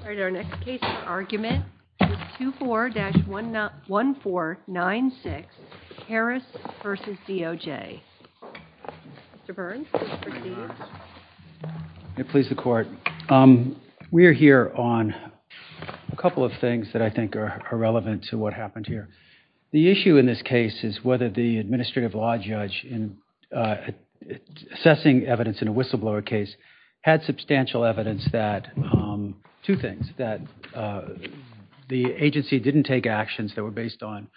All right, our next case argument is 24-1496 Harris v. DOJ. Mr. Burns, please proceed. Please the court. We are here on a couple of things that I think are relevant to what happened here. The issue in this case is whether the administrative law judge in assessing evidence in a whistleblower case had substantial evidence that, two things, that the agency didn't take actions that were based on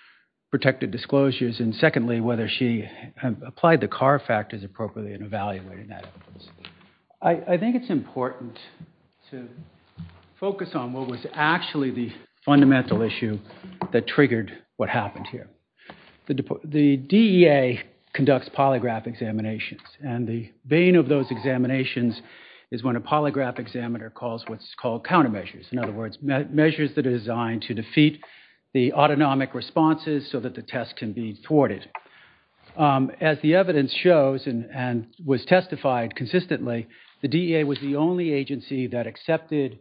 protected disclosures, and secondly, whether she applied the CAR factors appropriately in evaluating that evidence. I think it's important to focus on what was actually the fundamental issue that triggered what happened here. The DEA conducts polygraph examinations, and the bane of those examinations is when a polygraph examiner calls what's called countermeasures, in other words, measures that are designed to defeat the autonomic responses so that the test can be thwarted. As the evidence shows and was testified consistently, the DEA was the only agency that accepted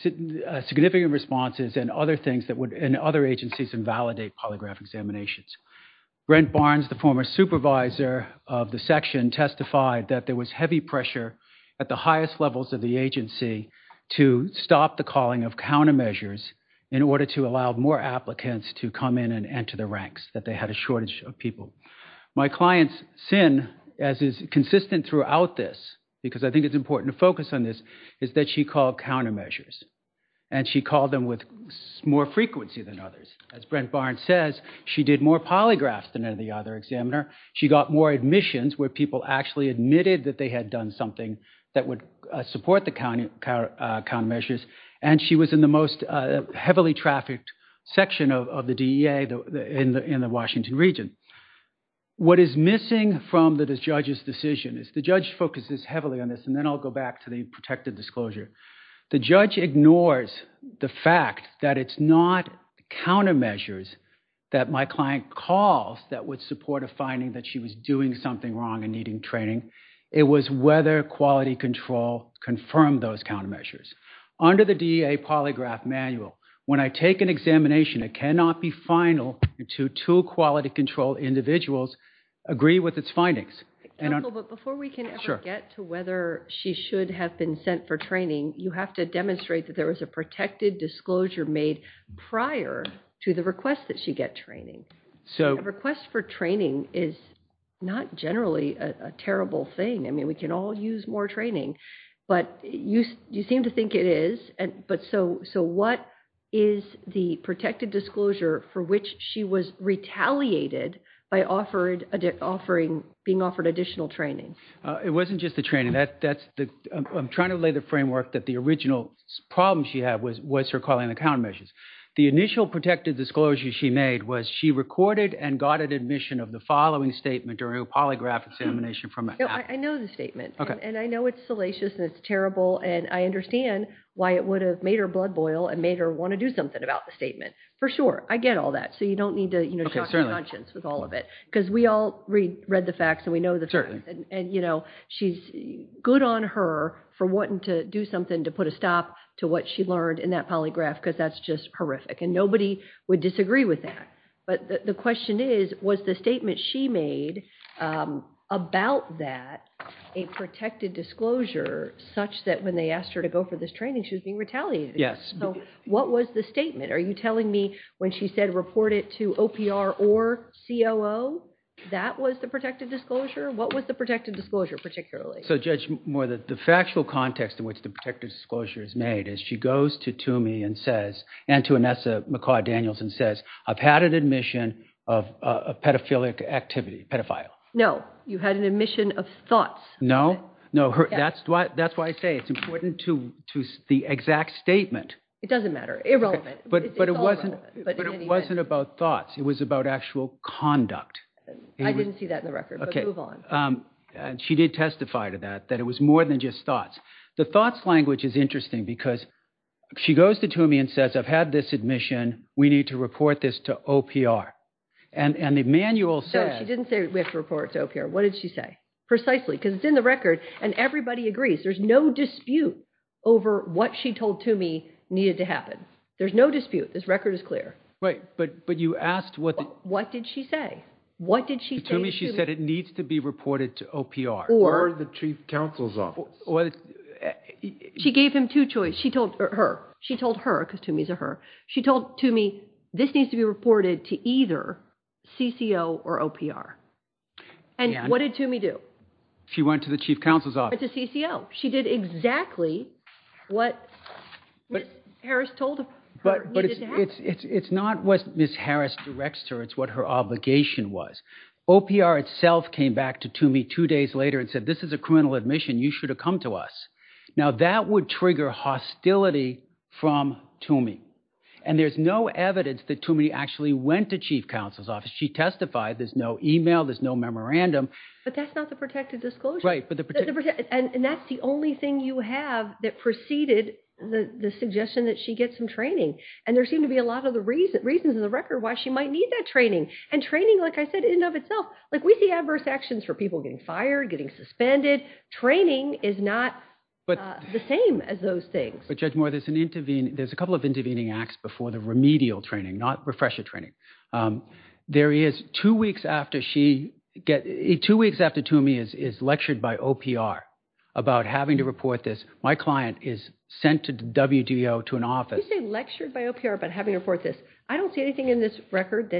significant responses and other things that agencies invalidate polygraph examinations. Brent Barnes, the former supervisor of the section, testified that there was heavy pressure at the highest levels of the agency to stop the calling of countermeasures in order to allow more applicants to come in and enter the ranks, that they had a shortage of people. My client's sin, as is consistent throughout this, because I think it's important to focus on this, is that she called countermeasures, and she called them with more frequency than others. As Brent Barnes says, she did more polygraphs than any other examiner. She got more admissions where people actually admitted that they had done something that would support the countermeasures, and she was in the most heavily trafficked section of the DEA in the Washington region. What is missing from the judge's decision is, the judge focuses heavily on this, and then I'll go back to the protected disclosure. The judge ignores the fact that it's not countermeasures that my client calls that would support a finding that she was doing something wrong and needing training. It was whether quality control confirmed those countermeasures. Under the DEA polygraph manual, when I take an examination, it cannot be final to two quality control individuals agree with its findings. Before we can ever get to whether she should have been sent for training, you have to demonstrate that there was a protected disclosure made prior to the request that she get training. A request for training is not generally a terrible thing. I mean, we can all use more training, but you seem to think it is. So what is the protected disclosure for which she was retaliated by being offered additional training? It wasn't just the training. I'm trying to lay the framework that the original problem she had was her calling the countermeasures. The initial protected disclosure she made was she recorded and got an admission of the following statement during a polygraph examination. I know the statement, and I know it's salacious and it's terrible, and I understand why it would have made her blood boil and made her want to do something about the statement. For sure, I get all that, so you don't need to talk nonsense with all of it, because we all read the facts and we know the facts, and she's good on her for wanting to do something to put a stop to what she learned in that polygraph, because that's just horrific, and nobody would disagree with that. But the question is, was the statement she made about that a protected disclosure such that when they asked her to go for this training, she was being retaliated? Yes. So what was the statement? Are you telling me when she said report it to OPR or COO, that was the protected disclosure? What was the protected disclosure particularly? So Judge Moore, the factual context in which the protected disclosure is made is she goes to Toomey and to Anessa McCaw-Daniels and says, I've had an admission of pedophilic activity, pedophile. No, you had an admission of thoughts. No, that's why I say it's important to the exact statement. It doesn't matter, irrelevant. But it wasn't about thoughts, it was about actual conduct. I didn't see that in the record, but move on. She did testify to that, that it was more than just thoughts. The thoughts language is interesting because she goes to Toomey and says, I've had this admission, we need to report this to OPR. And the manual says... No, she didn't say we have to report it to OPR. What did she say? Precisely, because it's in the record and everybody agrees. There's no dispute over what she told Toomey needed to happen. There's no dispute. This record is clear. Right, but you asked what... What did she say? What did she say to Toomey? She said it needs to be reported to OPR. Or the chief counsel's office. Well, she gave him two choices. She told her, she told her, because Toomey's a her. She told Toomey, this needs to be reported to either CCO or OPR. And what did Toomey do? She went to the chief counsel's office. To CCO. She did exactly what Ms. Harris told her needed to happen. It's not what Ms. Harris directs to her, it's what her obligation was. OPR itself came back to Toomey two days later and said, this is a criminal admission, you should have come to us. Now, that would trigger hostility from Toomey. And there's no evidence that Toomey actually went to chief counsel's office. She testified, there's no email, there's no memorandum. But that's not the protected disclosure. Right, but the protected... And that's the only thing you have that preceded the suggestion that she get some training. And there seem to be a lot of the reasons in the record why she might need that training. And training, like I said, in and of itself, like we see adverse actions for people getting fired, getting suspended, training is not the same as those things. But Judge Moore, there's a couple of intervening acts before the remedial training, not refresher training. There is, two weeks after Toomey is lectured by OPR about having to report this, my client is sent to the WDO to an office. You say lectured by OPR about having to report this. I don't see anything in this record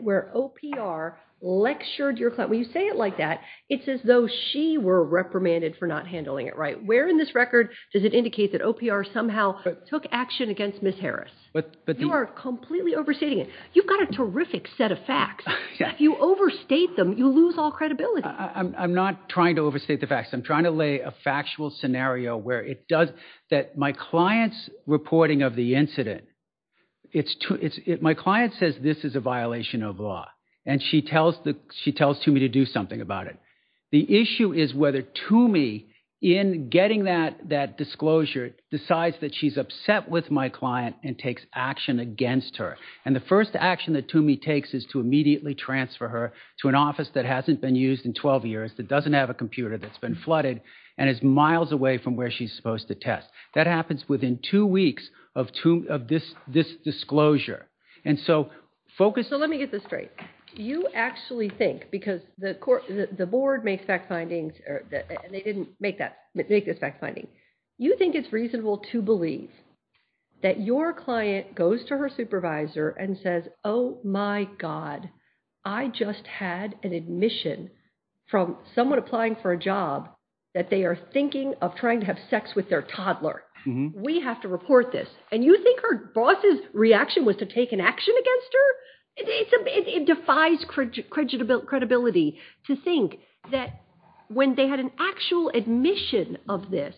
where OPR lectured your client. When you say it like that, it's as though she were reprimanded for not handling it right. Where in this record does it indicate that OPR somehow took action against Ms. Harris? You are completely overstating it. You've got a terrific set of facts. If you overstate them, you lose all credibility. I'm not trying to overstate the facts. I'm trying to lay a factual scenario where it does... That my client's reporting of the incident, my client says this is a violation of law. And she tells Toomey to do something about it. The issue is whether Toomey, in getting that disclosure, decides that she's upset with my client and takes action against her. And the first action that Toomey takes is to immediately transfer her to an office that hasn't been used in 12 years, that doesn't have a computer, that's been flooded, and is miles away from where she's supposed to test. That happens within two weeks of this disclosure. And so focus... Let me get this straight. You actually think, because the board makes fact findings, they didn't make this fact finding, you think it's reasonable to believe that your client goes to her supervisor and says, oh my God, I just had an admission from someone applying for a job that they are thinking of trying to have sex with their toddler. We have to report this. And you think her boss's reaction was to take an action against her? It defies credibility to think that when they had an actual admission of this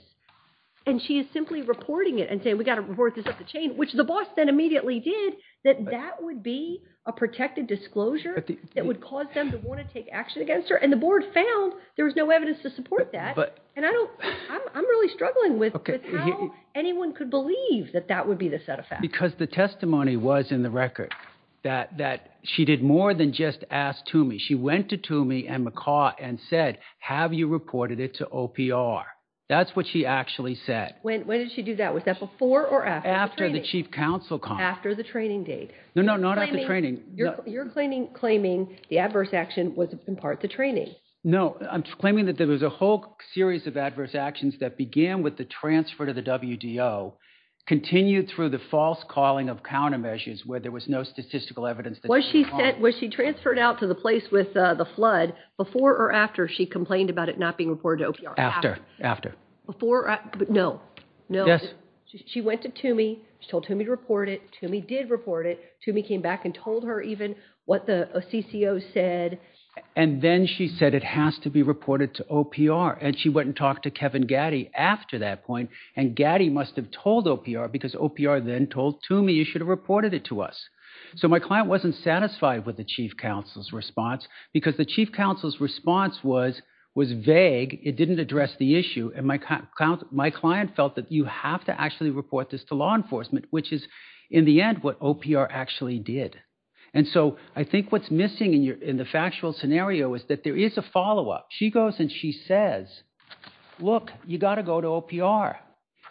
and she is simply reporting it and saying we got to report this up the chain, which the boss then immediately did, that that would be a protected disclosure that would cause them to want to take action against her. And the board found there was no evidence to support that. And I'm really struggling with how anyone could believe that that would be the set of facts. Because the testimony was in the record, that she did more than just ask Toomey. She went to Toomey and McCaw and said, have you reported it to OPR? That's what she actually said. When did she do that? Was that before or after the training? After the chief counsel call. After the training date. No, no, not after training. You're claiming the adverse action was in part the training. No, I'm claiming that there was a whole series of adverse actions that began with the transfer to the WDO, continued through the false calling of countermeasures where there was no statistical evidence. Was she transferred out to the place with the flood before or after she complained about it not being reported to OPR? After, after. Before, but no, no. She went to Toomey. She told Toomey to report it. Toomey did report it. Toomey came back and told her even what the CCO said. And then she said it has to be reported to OPR. And she went and talked to Kevin Gaddy after that point. And Gaddy must have told OPR because OPR then told Toomey, you should have reported it to us. So my client wasn't satisfied with the chief counsel's response because the chief counsel's response was vague. It didn't address the issue. And my client felt that you have to actually report this to law enforcement, which is in the end what OPR actually did. And so I think what's missing in the factual scenario is that there is a follow-up. She goes and she says, look, you got to go to OPR.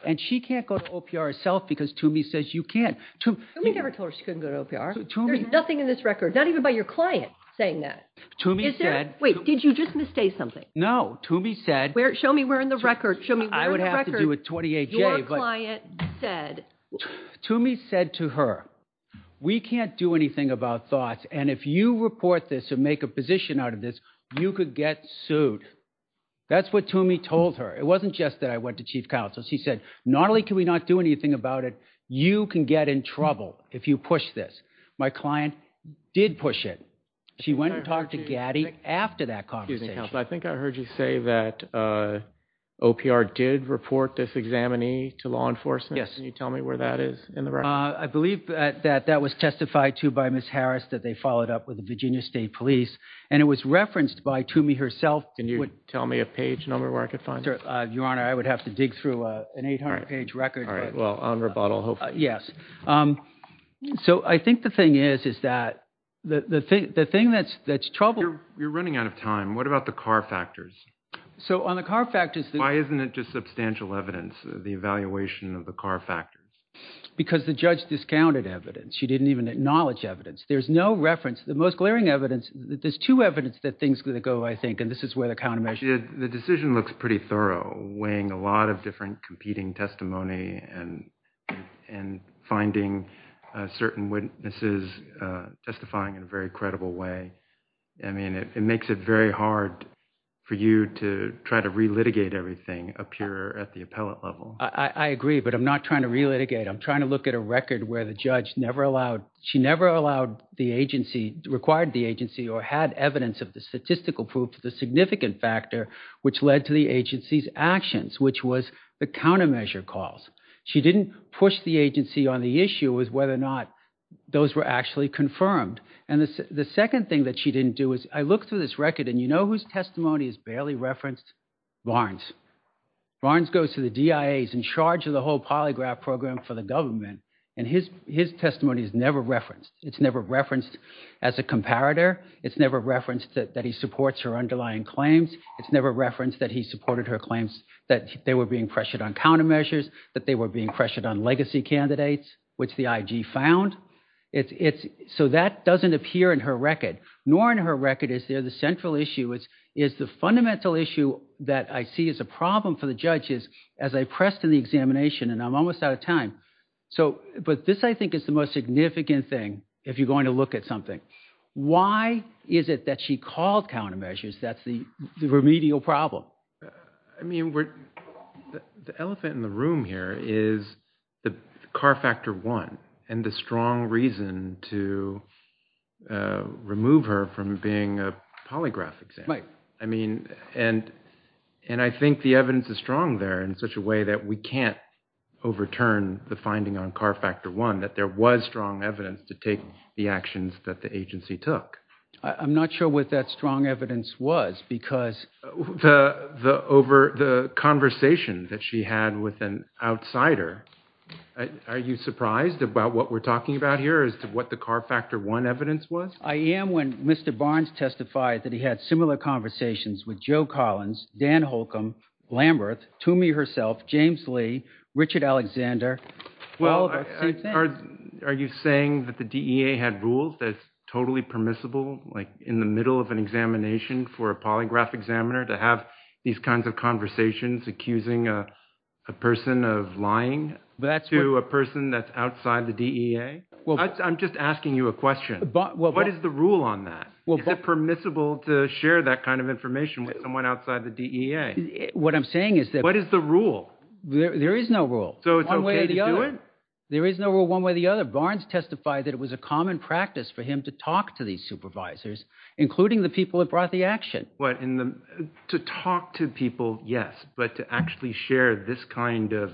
And she can't go to OPR herself because Toomey says you can't. Toomey never told her she couldn't go to OPR. There's nothing in this record, not even by your client, saying that. Toomey said. Wait, did you just misstate something? No, Toomey said. Where, show me where in the record. Show me where in the record. I would have to do a 28-J. Your client said. Toomey said to her, we can't do anything about thoughts. And if you report this and make a position out of this, you could get sued. That's what Toomey told her. It wasn't just that I went to chief counsel. She said, not only can we not do anything about it, you can get in trouble if you push this. My client did push it. She went and talked to Gaddy after that conversation. I think I heard you say that OPR did report this examinee to law enforcement. Yes. Can you tell me where that is in the record? I believe that that was testified to by Ms. Harris, that they followed up with the Virginia State Police. And it was referenced by Toomey herself. Can you tell me a page number where I could find it? Your Honor, I would have to dig through an 800-page record. Well, on rebuttal, hopefully. So I think the thing is, is that the thing that's trouble... You're running out of time. What about the car factors? So on the car factors... Why isn't it just substantial evidence, the evaluation of the car factors? Because the judge discounted evidence. She didn't even acknowledge evidence. There's no reference. The most glaring evidence, there's two evidence that things could go, I think. And this is where the countermeasure... The decision looks pretty thorough, weighing a lot of different competing testimony and finding certain witnesses testifying in a very credible way. I mean, it makes it very hard for you to try to re-litigate everything up here at the appellate level. I agree, but I'm not trying to re-litigate. I'm trying to look at a record where the judge never allowed... She never allowed the agency, required the agency or had evidence of the statistical proof to the significant factor, which led to the agency's actions, which was the countermeasure calls. She didn't push the agency on the issue with whether or not those were actually confirmed. And the second thing that she didn't do is, I looked through this record and you know whose testimony is barely referenced? Barnes goes to the DIA. He's in charge of the whole polygraph program for the government. And his testimony is never referenced. It's never referenced as a comparator. It's never referenced that he supports her underlying claims. It's never referenced that he supported her claims that they were being pressured on countermeasures, that they were being pressured on legacy candidates, which the IG found. So that doesn't appear in her record. Nor in her record is there the central issue is the fundamental issue that I see as a problem for the judges as I pressed in the examination, and I'm almost out of time. But this, I think, is the most significant thing if you're going to look at something. Why is it that she called countermeasures? That's the remedial problem. I mean, the elephant in the room here is the CAR Factor 1 and the strong reason to remove her from being a polygraph examiner. I mean, and I think the evidence is strong there in such a way that we can't overturn the finding on CAR Factor 1, that there was strong evidence to take the actions that the agency took. I'm not sure what that strong evidence was because... The conversation that she had with an outsider, are you surprised about what we're talking about here as to what the CAR Factor 1 evidence was? I am when Mr. Barnes testified that he had similar conversations with Joe Collins, Dan Holcomb, Lamberth, Toomey herself, James Lee, Richard Alexander. Well, are you saying that the DEA had rules that's totally permissible, like in the middle of an examination for a polygraph examiner to have these kinds of conversations accusing a person of lying to a person that's outside the DEA? I'm just asking you a question. What is the rule on that? Is it permissible to share that kind of information with someone outside the DEA? What I'm saying is that... What is the rule? There is no rule. So it's okay to do it? There is no rule one way or the other. Barnes testified that it was a common practice for him to talk to these supervisors, including the people that brought the action. But to talk to people, yes, but to actually share this kind of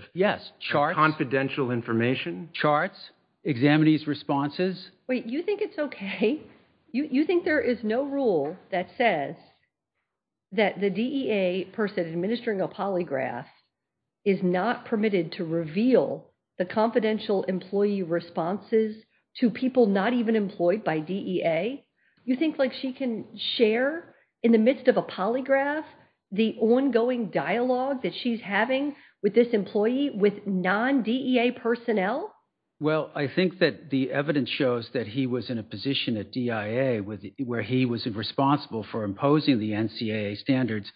confidential information? Charts, examinees' responses. Wait, you think it's okay? You think there is no rule that says that the DEA person administering a polygraph is not permitted to reveal the confidential employee responses to people not even employed by DEA? You think she can share in the midst of a polygraph the ongoing dialogue that she's having with this employee with non-DEA personnel? Well, I think that the evidence shows that he was in a position at DIA where he was responsible for imposing the NCAA standards.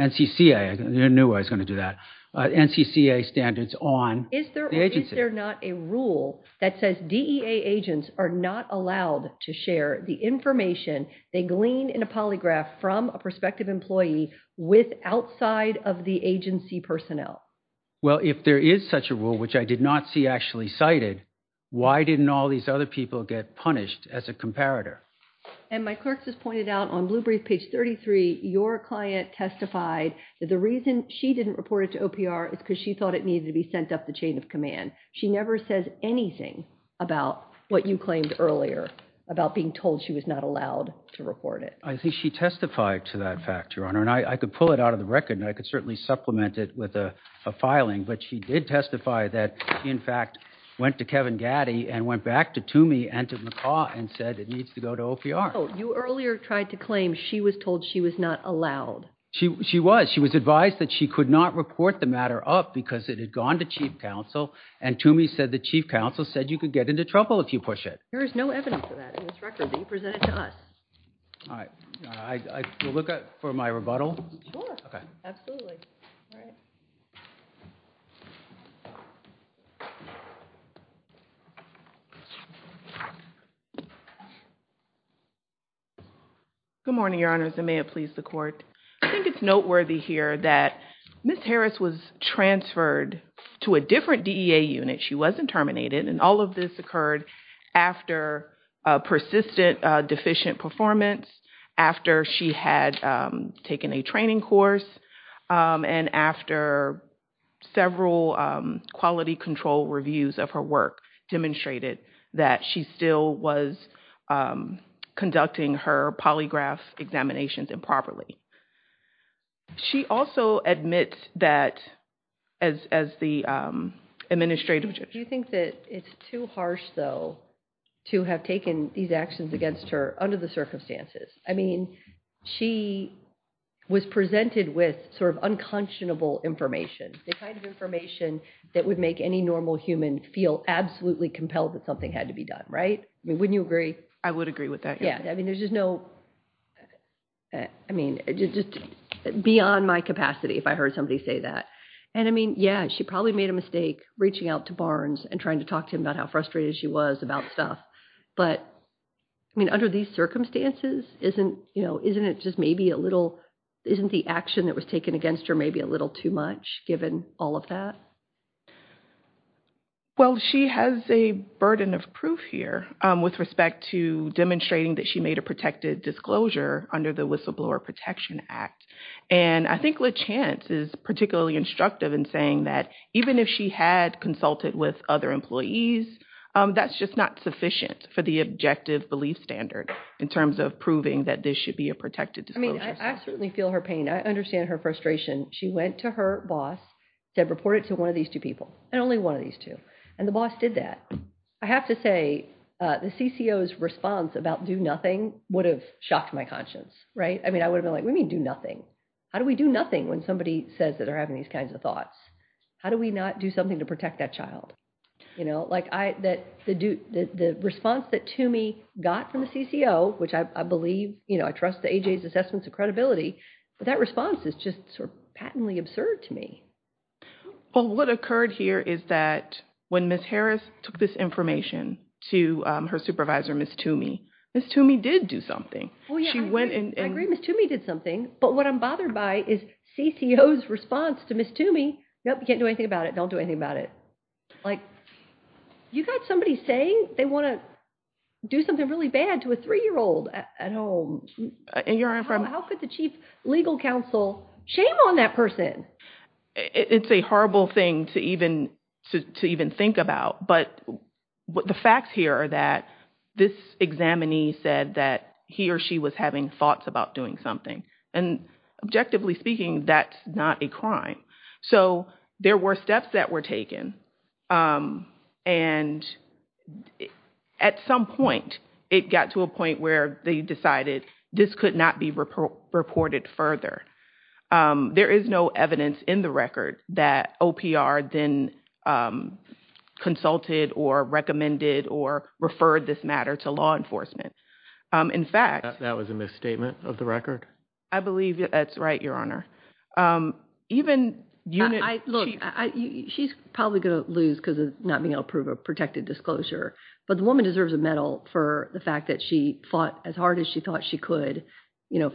NCCA, I knew I was going to do that. NCCA standards on... Is there not a rule that says DEA agents are not allowed to share the information they glean in a polygraph from a prospective employee with outside of the agency personnel? Well, if there is such a rule, which I did not see actually cited, why didn't all these other people get punished as a comparator? And my clerks has pointed out on Blue Brief, page 33, your client testified that the reason she didn't report it to OPR is because she thought it needed to be sent up the chain of command. She never says anything about what you claimed earlier about being told she was not allowed to report it. I think she testified to that fact, Your Honor, and I could pull it out of the record and I could certainly supplement it with a filing, but she did testify that she, in fact, went to Kevin Gaddy and went back to Toomey and to McCaw and said it needs to go to OPR. You earlier tried to claim she was told she was not allowed. She was. She was advised that she could not report the matter up because it had gone to chief counsel and Toomey said the chief counsel said you could get into trouble if you push it. There is no evidence of that in this record that you presented to us. All right. I will look for my rebuttal. Sure. Absolutely. All right. Good morning, Your Honors, and may it please the court. I think it's noteworthy here that Ms. Harris was transferred to a different DEA unit. She wasn't terminated, and all of this occurred after a persistent deficient performance, after she had taken a training course, and after several quality control reviews of her work demonstrated that she still was conducting her polygraph examinations improperly. She also admits that as the administrative judge. Do you think that it's too harsh, though, to have taken these actions against her under the circumstances? I mean, she was presented with sort of unconscionable information, the kind of information that would make any normal human feel absolutely compelled that something had to be done, right? I mean, wouldn't you agree? I would agree with that. Yeah. I mean, there's just no... I mean, it's just beyond my capacity if I heard somebody say that. And I mean, yeah, she probably made a mistake reaching out to Barnes and trying to talk to him about how frustrated she was about stuff. But I mean, under these circumstances, isn't it just maybe a little... Isn't the action that was taken against her maybe a little too much, given all of that? Well, she has a burden of proof here with respect to demonstrating that she made a protected disclosure under the Whistleblower Protection Act. And I think LaChance is particularly instructive in saying that even if she had consulted with other employees, that's just not sufficient for the objective belief standard in terms of proving that this should be a protected disclosure. I mean, I certainly feel her pain. I understand her frustration. She went to her boss, said, report it to one of these two people, and only one of these two. And the boss did that. I have to say the CCO's response about do nothing would have shocked my conscience, right? I mean, I would have been like, what do you mean do nothing? How do we do nothing when somebody says that they're having these kinds of thoughts? How do we not do something to protect that child? You know, like the response that Toomey got from the CCO, which I believe, you know, I trust the AJ's assessments of credibility, but that response is just sort of patently absurd to me. Well, what occurred here is that when Ms. Harris took this information to her supervisor, Ms. Toomey, Ms. Toomey did do something. Well, yeah, I agree Ms. Toomey did something, but what I'm bothered by is CCO's response to Ms. Toomey. Nope, you can't do anything about it. Don't do anything about it. Like, you got somebody saying they want to do something really bad to a three-year-old at home. And your Honor, from- How could the chief legal counsel shame on that person? It's a horrible thing to even think about, but the facts here are that this examinee said that he or she was having thoughts about doing something. And objectively speaking, that's not a crime. So there were steps that were taken. And at some point, it got to a point where they decided this could not be reported further. There is no evidence in the record that OPR then consulted or recommended or referred this matter to law enforcement. In fact- That was a misstatement of the record? I believe that's right, Your Honor. She's probably going to lose because of not being able to prove a protected disclosure, but the woman deserves a medal for the fact that she fought as hard as she thought she could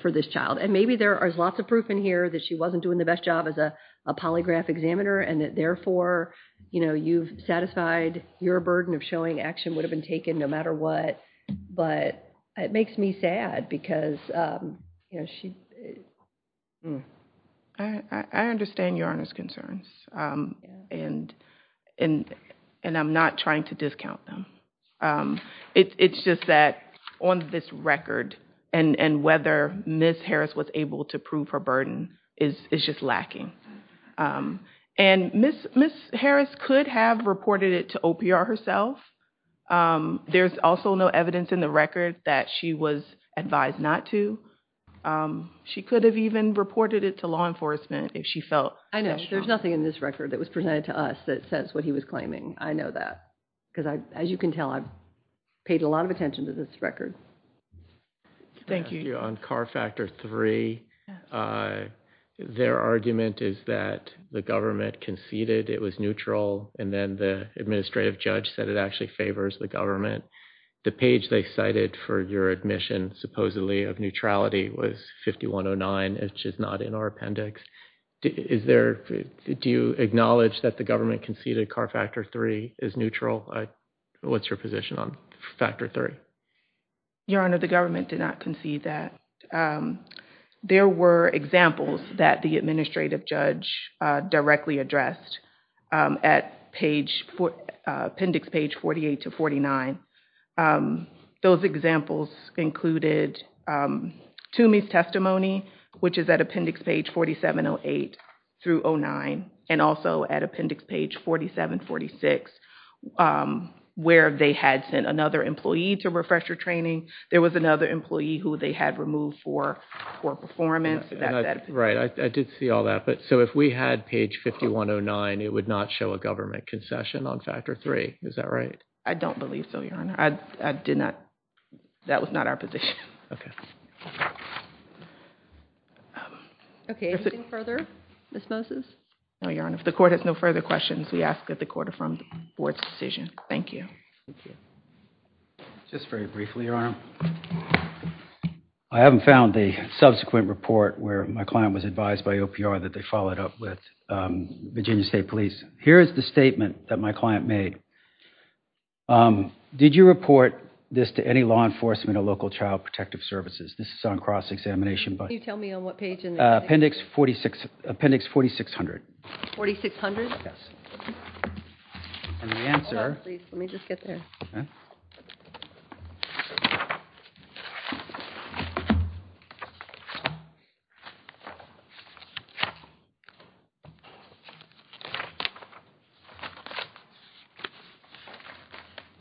for this child. And maybe there is lots of proof in here that she wasn't doing the best job as a polygraph examiner, and that therefore, you know, you've satisfied your burden of showing action would have been taken no matter what. But it makes me sad because, you know, she- I understand Your Honor's concerns. And I'm not trying to discount them. It's just that on this record, and whether Ms. Harris was able to prove her burden is just lacking. And Ms. Harris could have reported it to OPR herself. There's also no evidence in the record that she was advised not to. She could have even reported it to law enforcement if she felt- I know. There's nothing in this record that was presented to us that says what he was claiming. I know that. Because as you can tell, I've paid a lot of attention to this record. Thank you. On CAR Factor 3, their argument is that the government conceded it was neutral, and then the administrative judge said it actually favors the government. The page they cited for your admission, supposedly, of neutrality was 5109, which is not in our appendix. Is there- do you acknowledge that the government conceded CAR Factor 3 is neutral? What's your position on Factor 3? Your Honor, the government did not concede that. There were examples that the administrative judge directly addressed at page- appendix page 48 to 49. Those examples included Toomey's testimony, which is at appendix page 4708 through 09, and also at appendix page 4746, where they had sent another employee to refresher training. There was another employee who they had removed for performance. Right, I did see all that, but so if we had page 5109, it would not show a government concession on Factor 3. Is that right? I don't believe so, Your Honor. I did not- that was not our position. Okay, anything further, Ms. Moses? No, Your Honor. If the Court has no further questions, we ask that the Court affirm the Board's decision. Thank you. Just very briefly, Your Honor. I haven't found the subsequent report where my client was advised by OPR that they followed up with Virginia State Police. Here is the statement that my client made. Did you report this to any law enforcement or local child protective services? This is on cross-examination, but- Can you tell me on what page- Appendix 46- appendix 4600. 4600? Yes. And the answer- Hold on, please. Let me just get there. Okay.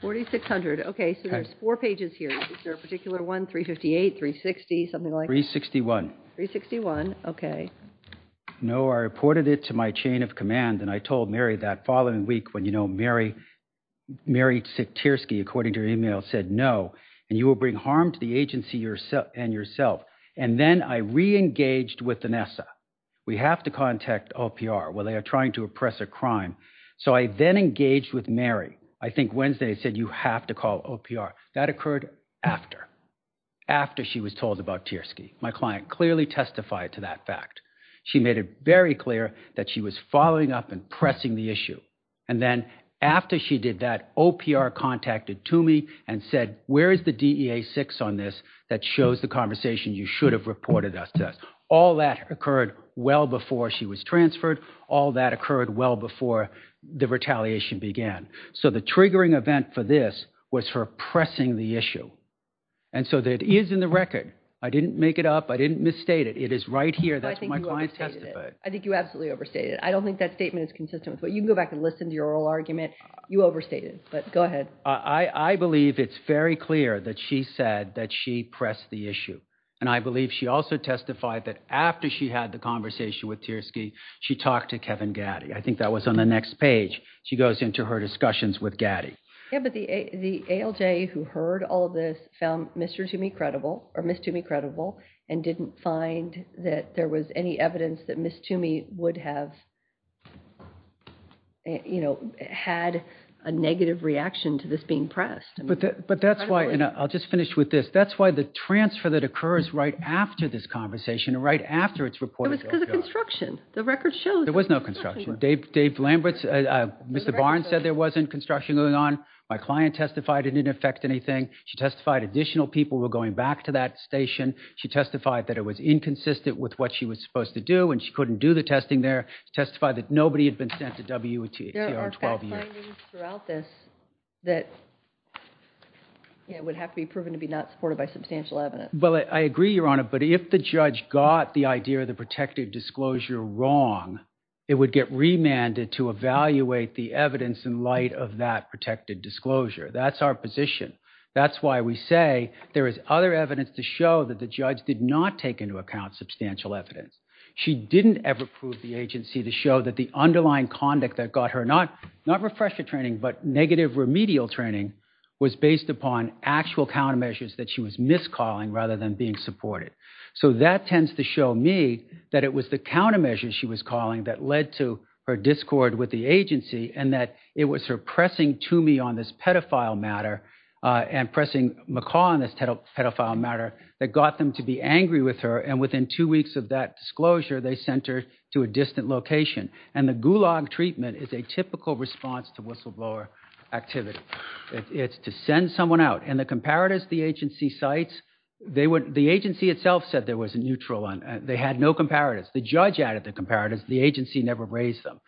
4600. Okay, so there's four pages here. Is there a particular one? 358, 360, something like- 361. 361. Okay. No, I reported it to my chain of command and I told Mary that following week when, you know, Mary Siktirski, according to her email, said no and you will bring harm to the agency and yourself. And then I re-engaged with Vanessa. We have to contact OPR. Well, they are trying to oppress a crime. So I then engaged with Mary. I think Wednesday said you have to call OPR. That occurred after. After she was told about Tierski. My client clearly testified to that fact. She made it very clear that she was following up and pressing the issue. And then after she did that, OPR contacted Toomey and said, where is the DEA 6 on this that shows the conversation you should have reported us to? All that occurred well before she was transferred. All that occurred well before the retaliation began. So the triggering event for this was her pressing the issue. And so that is in the record. I didn't make it up. I didn't misstate it. It is right here. That's what my client testified. I think you absolutely overstated it. I don't think that statement is consistent. You can go back and listen to your oral argument. You overstated it, but go ahead. I believe it's very clear that she said that she pressed the issue. And I believe she also testified that after she had the conversation with Tierski, she talked to Kevin Gaddy. I think that was on the next page. She goes into her discussions with Gaddy. Yeah, but the ALJ who heard all this found Mr. Toomey credible or Ms. Toomey credible and didn't find that there was any evidence that Ms. Toomey would have, you know, had a negative reaction to this being pressed. But that's why, and I'll just finish with this. That's why the transfer that occurs right after this conversation and right after it's reported. It was because of construction. The record shows. There was no construction. Dave Lamberts, Mr. Barnes said there wasn't construction going on. My client testified it didn't affect anything. She testified additional people were going back to that station. She testified that it was inconsistent with what she was supposed to do and she couldn't do the testing there. Testify that nobody had been sent to WTCR 12 years. There are findings throughout this that would have to be proven to be not supported by substantial evidence. Well, I agree, Your Honor. But if the judge got the idea of the protective disclosure wrong, it would get remanded to evaluate the evidence in light of that protected disclosure. That's our position. That's why we say there is other evidence to show that the judge did not take into account substantial evidence. She didn't ever prove the agency to show that the underlying conduct that got her not not refresher training, but negative remedial training was based upon actual countermeasures that she was miscalling rather than being supported. So that tends to show me that it was the countermeasures she was calling that led to her discord with the agency and that it was her pressing to me on this pedophile matter and pressing McCall on this pedophile matter that got them to be angry with her. And within two weeks of that disclosure, they sent her to a distant location. And the gulag treatment is a typical response to whistleblower activity. It's to send someone out. And the comparatives the agency cites, the agency itself said there was a neutral one. They had no comparatives. The judge added the comparatives. The agency never raised them.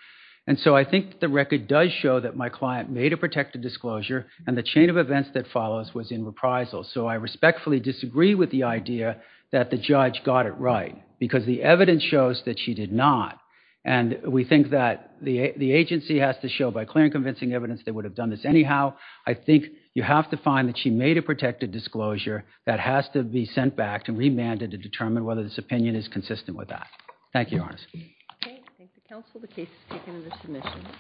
And so I think the record does show that my client made a protective disclosure and the chain of events that follows was in reprisal. So I respectfully disagree with the idea that the judge got it right because the evidence shows that she did not. And we think that the agency has to show by clear and convincing evidence they would have done this anyhow. I think you have to find that she made a protective disclosure that has to be sent back to remand and to determine whether this opinion is consistent with that. Thank you, Your Honor.